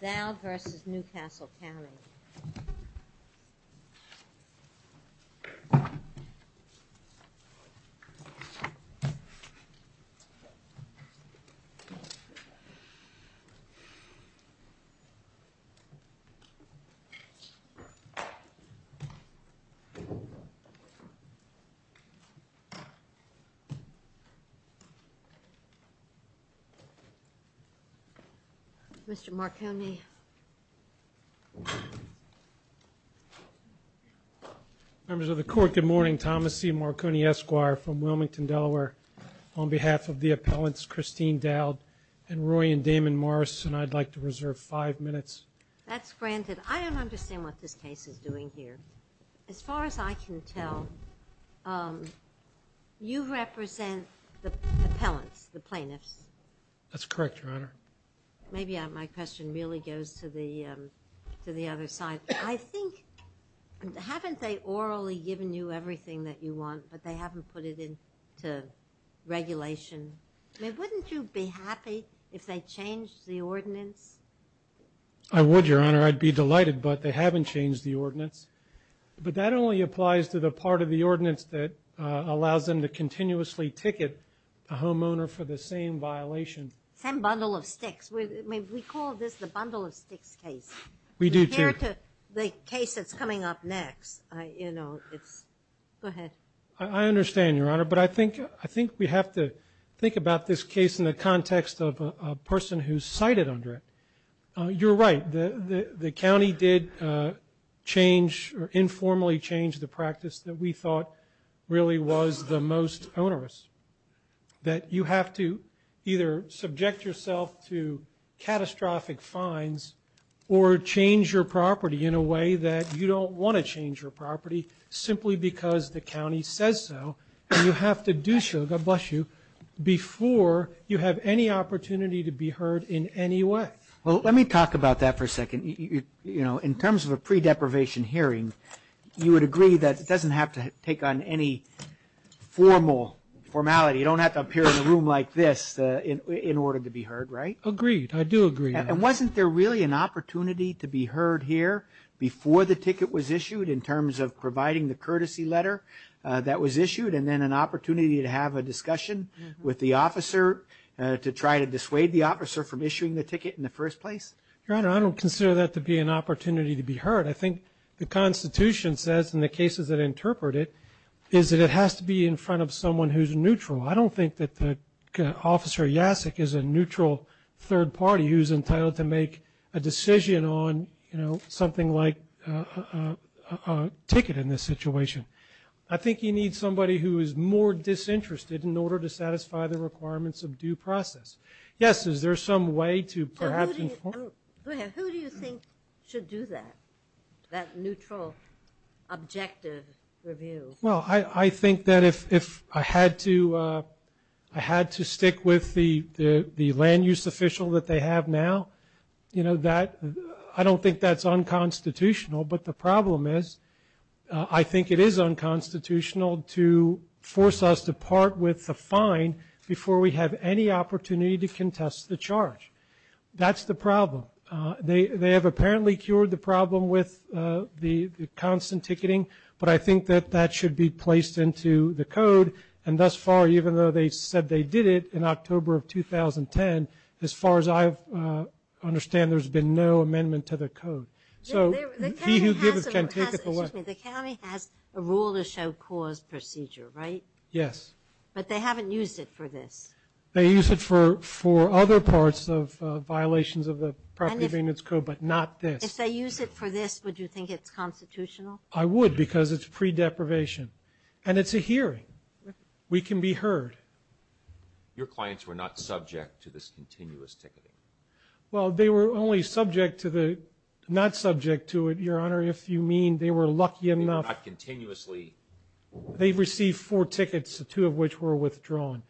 Dowd v. Newcastle County Wisconsin Good morning, Thomas C. Marconi, Esquire, from Wilmington, Delaware. On behalf of the appellants, Christine Dowd and Roy and Damon Morrison, I'd like to reserve five minutes. That's granted. I don't understand what this case is doing here. As far as I can tell, you represent the appellants, the plaintiffs. That's correct, Your Honor. Maybe my question really goes to the other side. I think, haven't they orally given you everything that you want, but they haven't put it into regulation? I mean, wouldn't you be happy if they changed the ordinance? I would, Your Honor. I'd be delighted, but they haven't changed the ordinance. But that only applies to the part of the ordinance that allows them to continuously ticket a homeowner for the same violation. Same bundle of sticks. I mean, we call this the bundle of sticks case. We do, too. Compared to the case that's coming up next, you know, it's, go ahead. I understand, Your Honor. But I think we have to think about this case in the context of a person who's cited under it. You're right, the county did change or informally change the practice that we thought really was the most onerous. That you have to either subject yourself to catastrophic fines or change your property in a way that you don't want to change your property simply because the county says so. And you have to do so, God bless you, before you have any opportunity to be heard in any way. Well, let me talk about that for a second. You know, in terms of a pre-deprivation hearing, you would agree that it doesn't have to take on any formal, formality, you don't have to appear in a room like this in order to be heard, right? Agreed. I do agree. And wasn't there really an opportunity to be heard here before the ticket was issued in terms of providing the courtesy letter that was issued and then an opportunity to have a discussion with the officer to try to dissuade the officer from issuing the ticket in the first place? Your Honor, I don't consider that to be an opportunity to be heard. I think the Constitution says, and the cases that interpret it, is that it has to be in front of someone who's neutral. I don't think that Officer Yasik is a neutral third party who's entitled to make a decision on, you know, something like a ticket in this situation. I think you need somebody who is more disinterested in order to satisfy the requirements of due process. Yes, is there some way to perhaps inform? Go ahead. Who do you think should do that, that neutral, objective review? Well, I think that if I had to stick with the land use official that they have now, you know, I don't think that's unconstitutional. But the problem is I think it is unconstitutional to force us to part with the fine before we have any opportunity to contest the charge. That's the problem. They have apparently cured the problem with the constant ticketing. But I think that that should be placed into the code. And thus far, even though they said they did it in October of 2010, as far as I understand, there's been no amendment to the code. So he who gives it can take it away. The county has a rule to show cause procedure, right? Yes. But they haven't used it for this. They use it for other parts of violations of the property maintenance code, but not this. If they use it for this, would you think it's constitutional? I would, because it's pre-deprivation. And it's a hearing. We can be heard. Your clients were not subject to this continuous ticketing. Well, they were only subject to the, not subject to it, Your Honor, if you mean they were lucky enough. Not continuously. They received four tickets, two of which were withdrawn.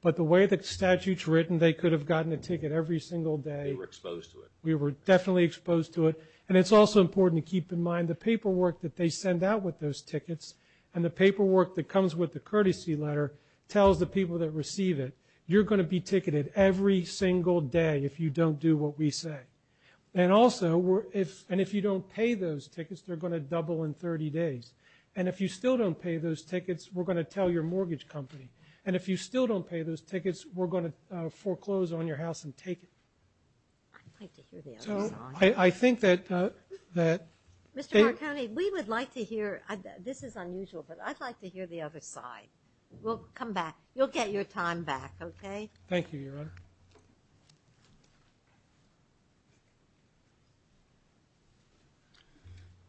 But the way the statute's written, they could have gotten a ticket every single day. They were exposed to it. We were definitely exposed to it. And it's also important to keep in mind the paperwork that they send out with those tickets and the paperwork that comes with the courtesy letter tells the people that receive it, you're going to be ticketed every single day if you don't do what we say. And also, and if you don't pay those tickets, they're going to double in 30 days. And if you still don't pay those tickets, we're going to tell your mortgage company. And if you still don't pay those tickets, we're going to foreclose on your house and take it. I'd like to hear the other side. So, I think that, that... Mr. Marconi, we would like to hear, this is unusual, but I'd like to hear the other side. We'll come back. You'll get your time back, okay? Thank you, Your Honor.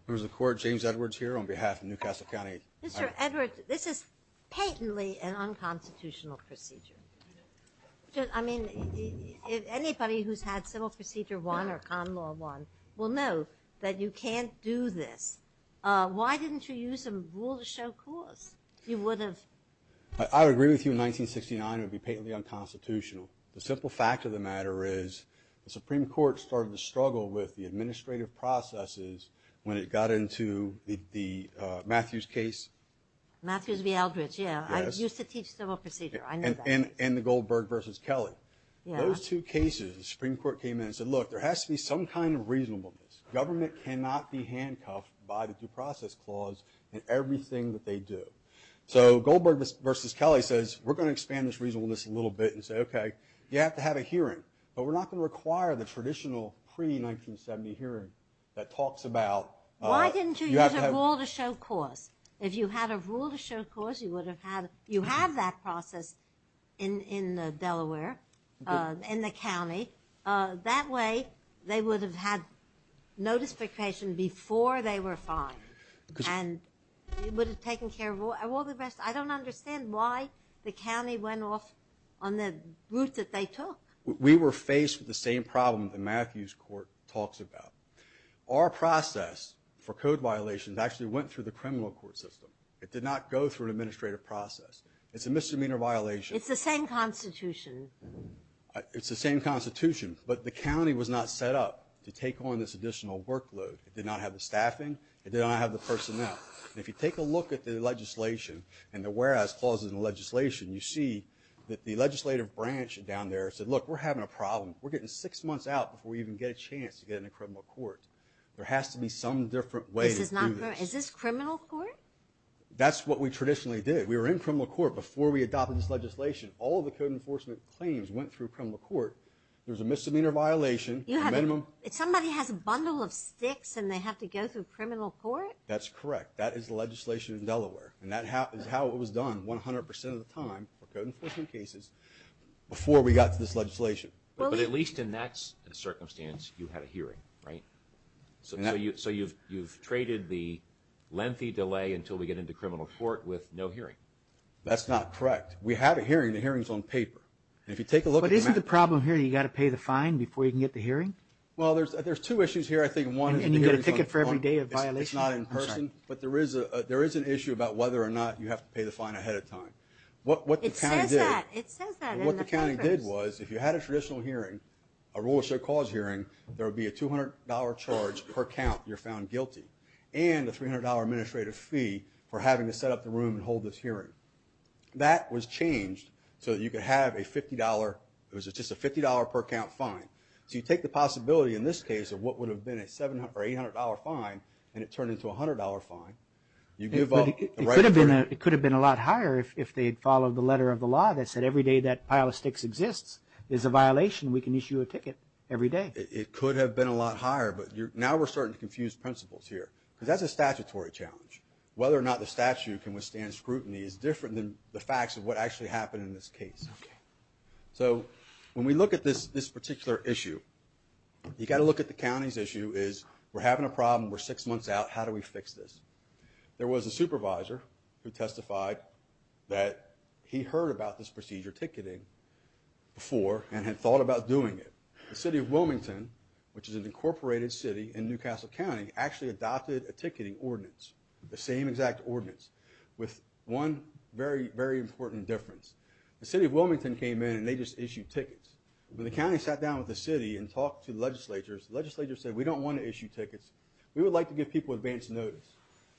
Members of the Court, James Edwards here on behalf of Newcastle County. Mr. Edwards, this is patently an unconstitutional procedure. I mean, anybody who's had Civil Procedure I or Con Law I will know that you can't do this. Why didn't you use a rule to show cause? You would have... I would agree with you in 1969 it would be patently unconstitutional. The simple fact of the matter is the Supreme Court started to struggle with the administrative processes when it got into the Matthews case. Matthews v. Eldridge, yeah, I used to teach Civil Procedure, I know that. And the Goldberg v. Kelly. Yeah. Those two cases, the Supreme Court came in and said, look, there has to be some kind of reasonableness. Government cannot be handcuffed by the Due Process Clause in everything that they do. So Goldberg v. Kelly says, we're going to expand this reasonableness a little bit and say, okay, you have to have a hearing, but we're not going to require the traditional pre-1970 hearing that talks about... Why didn't you use a rule to show cause? If you had a rule to show cause, you would have had... You have that process in Delaware, in the county. That way, they would have had notification before they were fined and it would have taken care of all the rest. I don't understand why the county went off on the route that they took. We were faced with the same problem that Matthews Court talks about. Our process for code violations actually went through the criminal court system. It did not go through an administrative process. It's a misdemeanor violation. It's the same Constitution. It's the same Constitution, but the county was not set up to take on this additional workload. It did not have the staffing. It did not have the personnel. If you take a look at the legislation and the whereabouts clauses in the legislation, you see that the legislative branch down there said, look, we're having a problem. We're getting six months out before we even get a chance to get in a criminal court. There has to be some different way to do this. Is this criminal court? That's what we traditionally did. We were in criminal court before we adopted this legislation. All the code enforcement claims went through criminal court. There's a misdemeanor violation, a minimum... Somebody has a bundle of sticks and they have to go through criminal court? That's correct. That is the legislation in Delaware. That is how it was done 100% of the time for code enforcement cases before we got to this legislation. But at least in that circumstance, you had a hearing, right? So you've traded the lengthy delay until we get into criminal court with no hearing? That's not correct. We had a hearing. The hearing's on paper. If you take a look at the map... But isn't the problem here that you've got to pay the fine before you can get the hearing? Well, there's two issues here, I think. One is... And you get a ticket for every day of violation? It's not in person. I'm sorry. But there is an issue about whether or not you have to pay the fine ahead of time. What the county did... It says that. It says that in the papers. What the county did was, if you had a traditional hearing, a rule of show cause hearing, there would be a $200 charge per count if you're found guilty, and a $300 administrative fee for having to set up the room and hold this hearing. That was changed so that you could have a $50, it was just a $50 per count fine. So you take the possibility in this case of what would have been a $800 fine, and it turned into a $100 fine. You give up the right... It could have been a lot higher if they had followed the letter of the law that said every day that pile of sticks exists is a violation, we can issue a ticket every day. It could have been a lot higher, but now we're starting to confuse principles here. Because that's a statutory challenge. Whether or not the statute can withstand scrutiny is different than the facts of what actually happened in this case. So when we look at this particular issue, you've got to look at the county's issue is, we're having a problem, we're six months out, how do we fix this? There was a supervisor who testified that he heard about this procedure, ticketing, before and had thought about doing it. The city of Wilmington, which is an incorporated city in New Castle County, actually adopted a ticketing ordinance, the same exact ordinance, with one very, very important difference. The city of Wilmington came in and they just issued tickets. When the county sat down with the city and talked to the legislatures, the legislatures said we don't want to issue tickets, we would like to give people advance notice.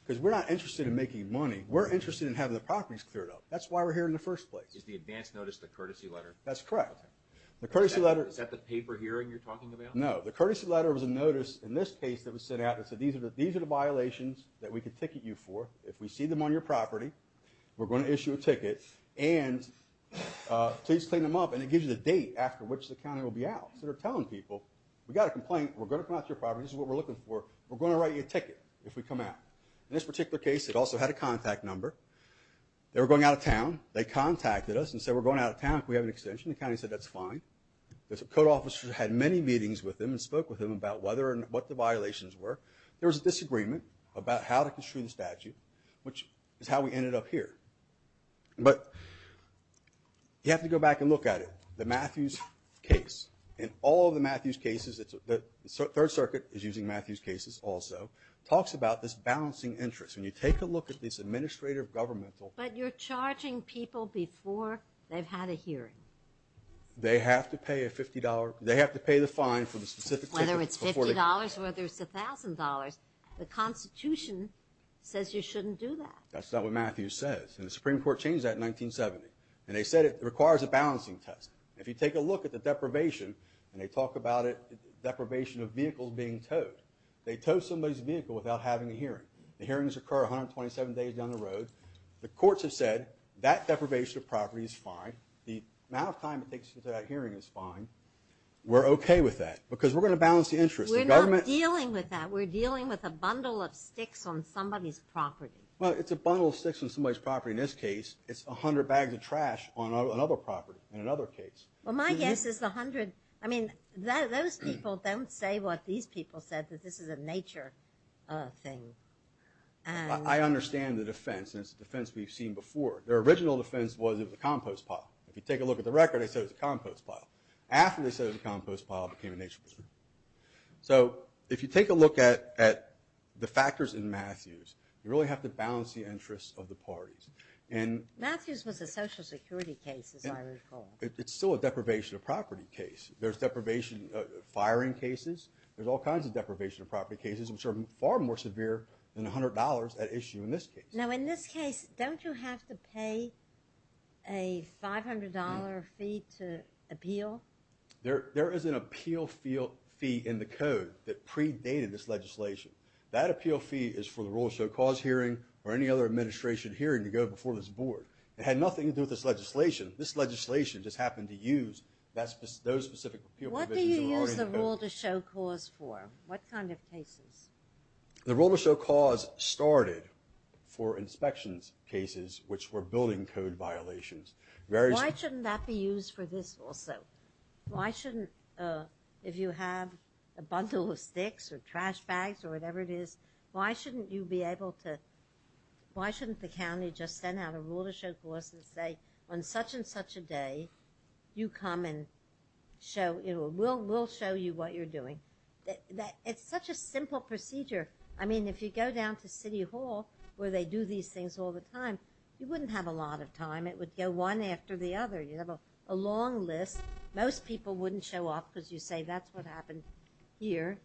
Because we're not interested in making money, we're interested in having the properties cleared up. That's why we're here in the first place. Is the advance notice the courtesy letter? That's correct. Is that the paper hearing you're talking about? No. The courtesy letter was a notice, in this case, that was sent out that said these are the violations that we could ticket you for. If we see them on your property, we're going to issue a ticket, and please clean them up. And it gives you the date after which the county will be out. So they're telling people, we've got a complaint, we're going to come out to your property, this is what we're looking for, we're going to write you a ticket if we come out. In this particular case, it also had a contact number. They were going out of town, they contacted us and said we're going out of town if we have an extension. The county said that's fine. The code officers had many meetings with them and spoke with them about what the violations were. There was a disagreement about how to construe the statute, which is how we ended up here. But you have to go back and look at it. The Matthews case, in all of the Matthews cases, the Third Circuit is using Matthews cases also, talks about this balancing interest. When you take a look at this administrative governmental But you're charging people before they've had a hearing. They have to pay a $50, they have to pay the fine for the specific ticket. Whether it's $50 or whether it's $1,000, the Constitution says you shouldn't do that. That's not what Matthews says. And the Supreme Court changed that in 1970. And they said it requires a balancing test. If you take a look at the deprivation, and they talk about it, deprivation of vehicles being towed. They tow somebody's vehicle without having a hearing. The hearings occur 127 days down the road. The courts have said that deprivation of property is fine. The amount of time it takes to get to that hearing is fine. We're okay with that. Because we're going to balance the interest. We're not dealing with that. We're dealing with a bundle of sticks on somebody's property. Well, it's a bundle of sticks on somebody's property in this case. It's a hundred bags of trash on another property in another case. Well, my guess is the hundred, I mean, those people don't say what these people said, that this is a nature thing. I understand the defense, and it's a defense we've seen before. Their original defense was it was a compost pile. If you take a look at the record, they said it was a compost pile. After they said it was a compost pile, it became a nature thing. So, if you take a look at the factors in Matthews, you really have to balance the interests of the parties. Matthews was a social security case, as I recall. It's still a deprivation of property case. There's deprivation of firing cases. There's all kinds of deprivation of property cases, which are far more severe than $100 at issue in this case. Now, in this case, don't you have to pay a $500 fee to appeal? There is an appeal fee in the code that predated this legislation. That appeal fee is for the Role to Show Cause hearing or any other administration hearing to go before this board. It had nothing to do with this legislation. This legislation just happened to use those specific appeal provisions in the order in the code. What do you use the Role to Show Cause for? What kind of cases? The Role to Show Cause started for inspections cases, which were building code violations. Why shouldn't that be used for this also? Why shouldn't, if you have a bundle of sticks or trash bags or whatever it is, why shouldn't you be able to, why shouldn't the county just send out a Role to Show Cause and say, on such and such a day, you come and we'll show you what you're doing. It's such a simple procedure. I mean, if you go down to City Hall, where they do these things all the time, you wouldn't have a lot of time. It would go one after the other. You'd have a long list. Most people wouldn't show up because you say that's what happened here.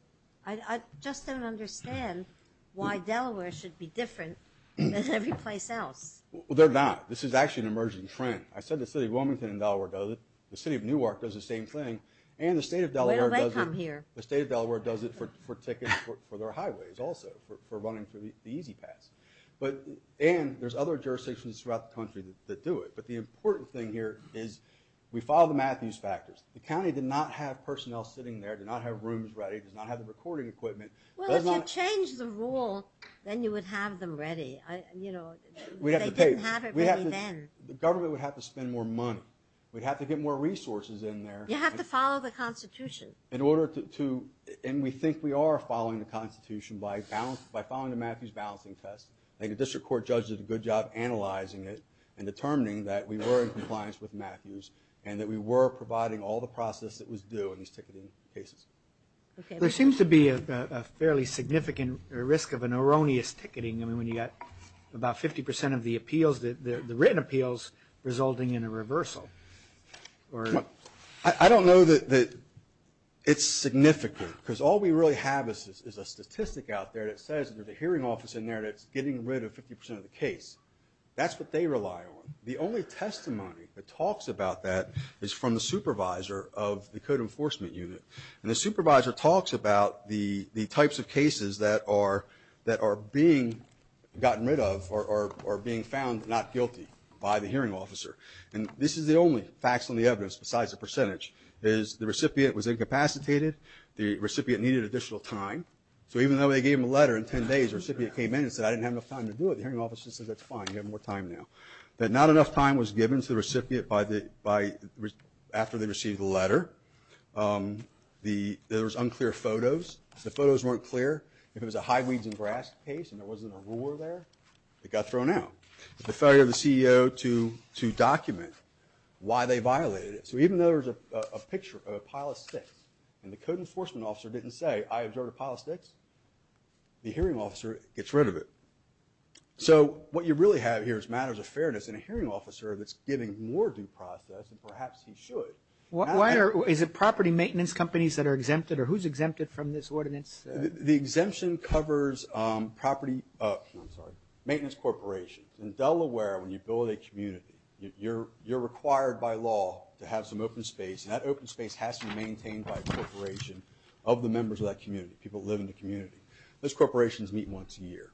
I just don't understand why Delaware should be different than every place else. Well, they're not. This is actually an emerging trend. I said the City of Wilmington in Delaware does it. The City of Newark does the same thing. And the State of Delaware does it. Where do they come here? The State of Delaware does it for tickets for their highways also, for running through the E-Z Pass. And there's other jurisdictions throughout the country that do it. But the important thing here is we follow the Matthews factors. The county did not have personnel sitting there, did not have rooms ready, did not have the recording equipment. Well, if you change the rule, then you would have them ready. You know, they didn't have it ready then. The government would have to spend more money. We'd have to get more resources in there. You have to follow the Constitution. In order to, and we think we are following the Constitution by following the Matthews balancing test. I think the district court judges did a good job analyzing it and determining that we were in compliance with Matthews and that we were providing all the process that was due in these ticketing cases. Okay. There seems to be a fairly significant risk of an erroneous ticketing. I mean, when you got about 50% of the appeals, the written appeals, resulting in a reversal. I don't know that it's significant because all we really have is a statistic out there that says there's a hearing office in there that's getting rid of 50% of the case. That's what they rely on. The only testimony that talks about that is from the supervisor of the code enforcement unit. And the supervisor talks about the types of cases that are being gotten rid of or being found not guilty by the hearing officer. And this is the only facts on the evidence besides the percentage is the recipient was incapacitated, the recipient needed additional time. So even though they gave him a letter in 10 days, the recipient came in and said, I didn't have enough time to do it. The hearing officer says, that's fine, you have more time now. That not enough time was given to the recipient by the, after they received the letter. The, there was unclear photos. The photos weren't clear. If it was a high weeds and grass case and there wasn't a ruler there, it got thrown out. The failure of the CEO to document why they violated it. So even though there's a picture of a pile of sticks and the code enforcement officer didn't say, I observed a pile of sticks, the hearing officer gets rid of it. So what you really have here is matters of fairness and a hearing officer that's giving more due process and perhaps he should. Why is it property maintenance companies that are exempted or who's exempted from this ordinance? The exemption covers property, I'm sorry, maintenance corporations. In Delaware, when you build a community, you're, you're required by law to have some open space and that open space has to be maintained by a corporation of the members of that community, people that live in the community. Those corporations meet once a year.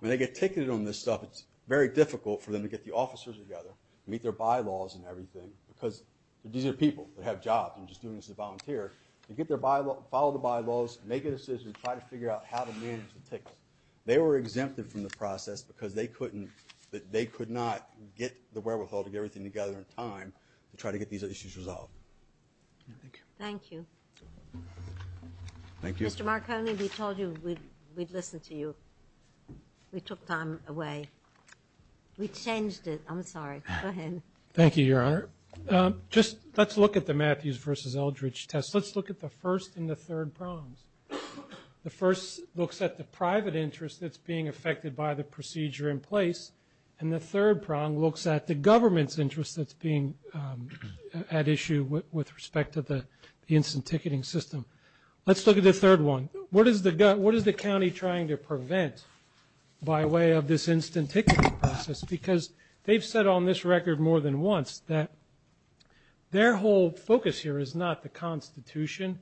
When they get ticketed on this stuff, it's very difficult for them to get the officers together, meet their bylaws and everything, because these are people that have jobs and just doing this as a volunteer, to get their bylaw, follow the bylaws, make a decision, try to figure out how to manage the tickets. They were exempted from the process because they couldn't, they could not get the wherewithal to get everything together in time to try to get these issues resolved. Thank you. Thank you. Mr. Marconi, we told you we'd listen to you. We took time away. We changed it. I'm sorry. Go ahead. Thank you, Your Honor. Just, let's look at the Matthews versus Eldridge test. Let's look at the first and the third prongs. The first looks at the private interest that's being affected by the procedure in place and the third prong looks at the government's interest that's being at issue with respect to the instant ticketing system. Let's look at the third one. What is the county trying to prevent by way of this instant ticketing process? Because they've said on this record more than once that their whole focus here is not the Constitution,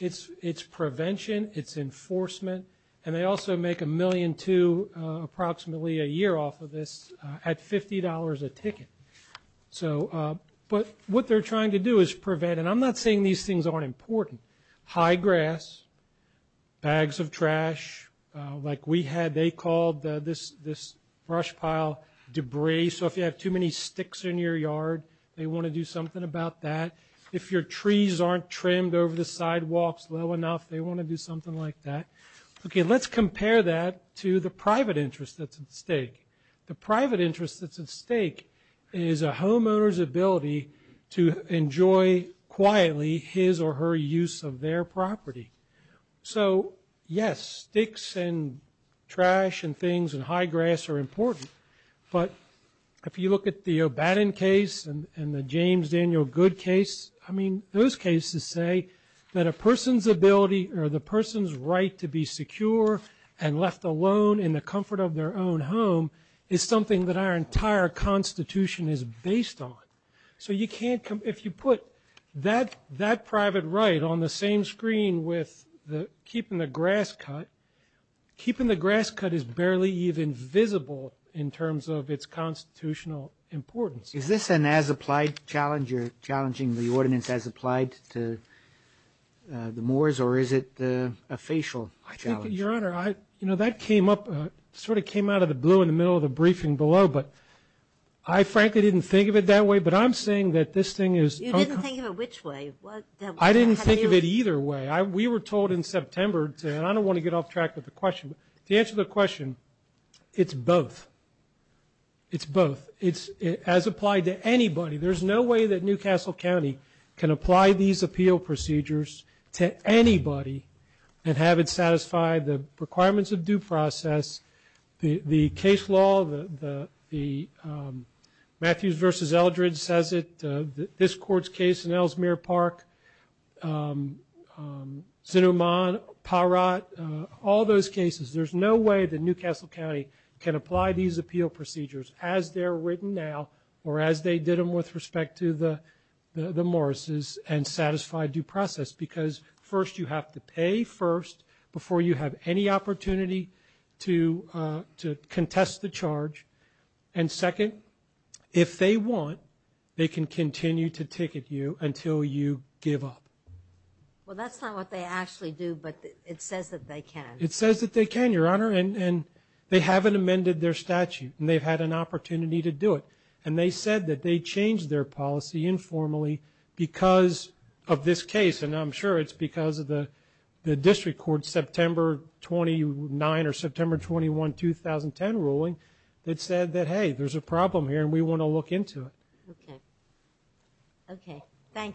it's prevention, it's enforcement, and they also make a million two approximately a year off of this at $50 a ticket. But what they're trying to do is prevent, and I'm not saying these things aren't important, high grass, bags of trash, like we had, they called this brush pile debris, so if you have too many sticks in your yard, they want to do something about that. If your trees aren't trimmed over the sidewalks low enough, they want to do something like that. Okay, let's compare that to the private interest that's at stake. The private interest that's at stake is a homeowner's ability to enjoy quietly his or her use of their property. So yes, sticks and trash and things and high grass are important, but if you look at the O'Bannon case and the James Daniel Good case, I mean, those cases say that a person's ability or the person's right to be secure and left alone in the comfort of their own home is something that our entire Constitution is based on. So you can't, if you put that private right on the same screen with keeping the grass cut, keeping the grass cut is barely even visible in terms of its constitutional importance. Is this an as-applied challenge, you're challenging the ordinance as applied to the Moors, or is it a facial challenge? Your Honor, you know, that came up, sort of came out of the blue in the middle of the briefing below, but I frankly didn't think of it that way, but I'm saying that this thing is... You didn't think of it which way? I didn't think of it either way. We were told in September, and I don't want to get off track with the question, but to answer the question, it's both. It's both. As applied to anybody, there's no way that New Castle County can apply these appeal procedures to anybody and have it satisfy the requirements of due process, the case law, the Matthews v. Eldredge says it, this court's case in Ellesmere Park, Zinuman, Parat, all those cases, there's no way that New Castle County can apply these appeal procedures as they're written now, or as they did them with respect to the Moors, and satisfy due process. Because first, you have to pay first before you have any opportunity to contest the charge, and second, if they want, they can continue to ticket you until you give up. Well, that's not what they actually do, but it says that they can. It says that they can, Your Honor, and they haven't amended their statute, and they've had an opportunity to do it, and they said that they changed their policy informally because of this case, and I'm sure it's because of the district court's September 29 or September 21, 2010 ruling that said that, hey, there's a problem here, and we want to look into it. Okay. Okay. Thank you.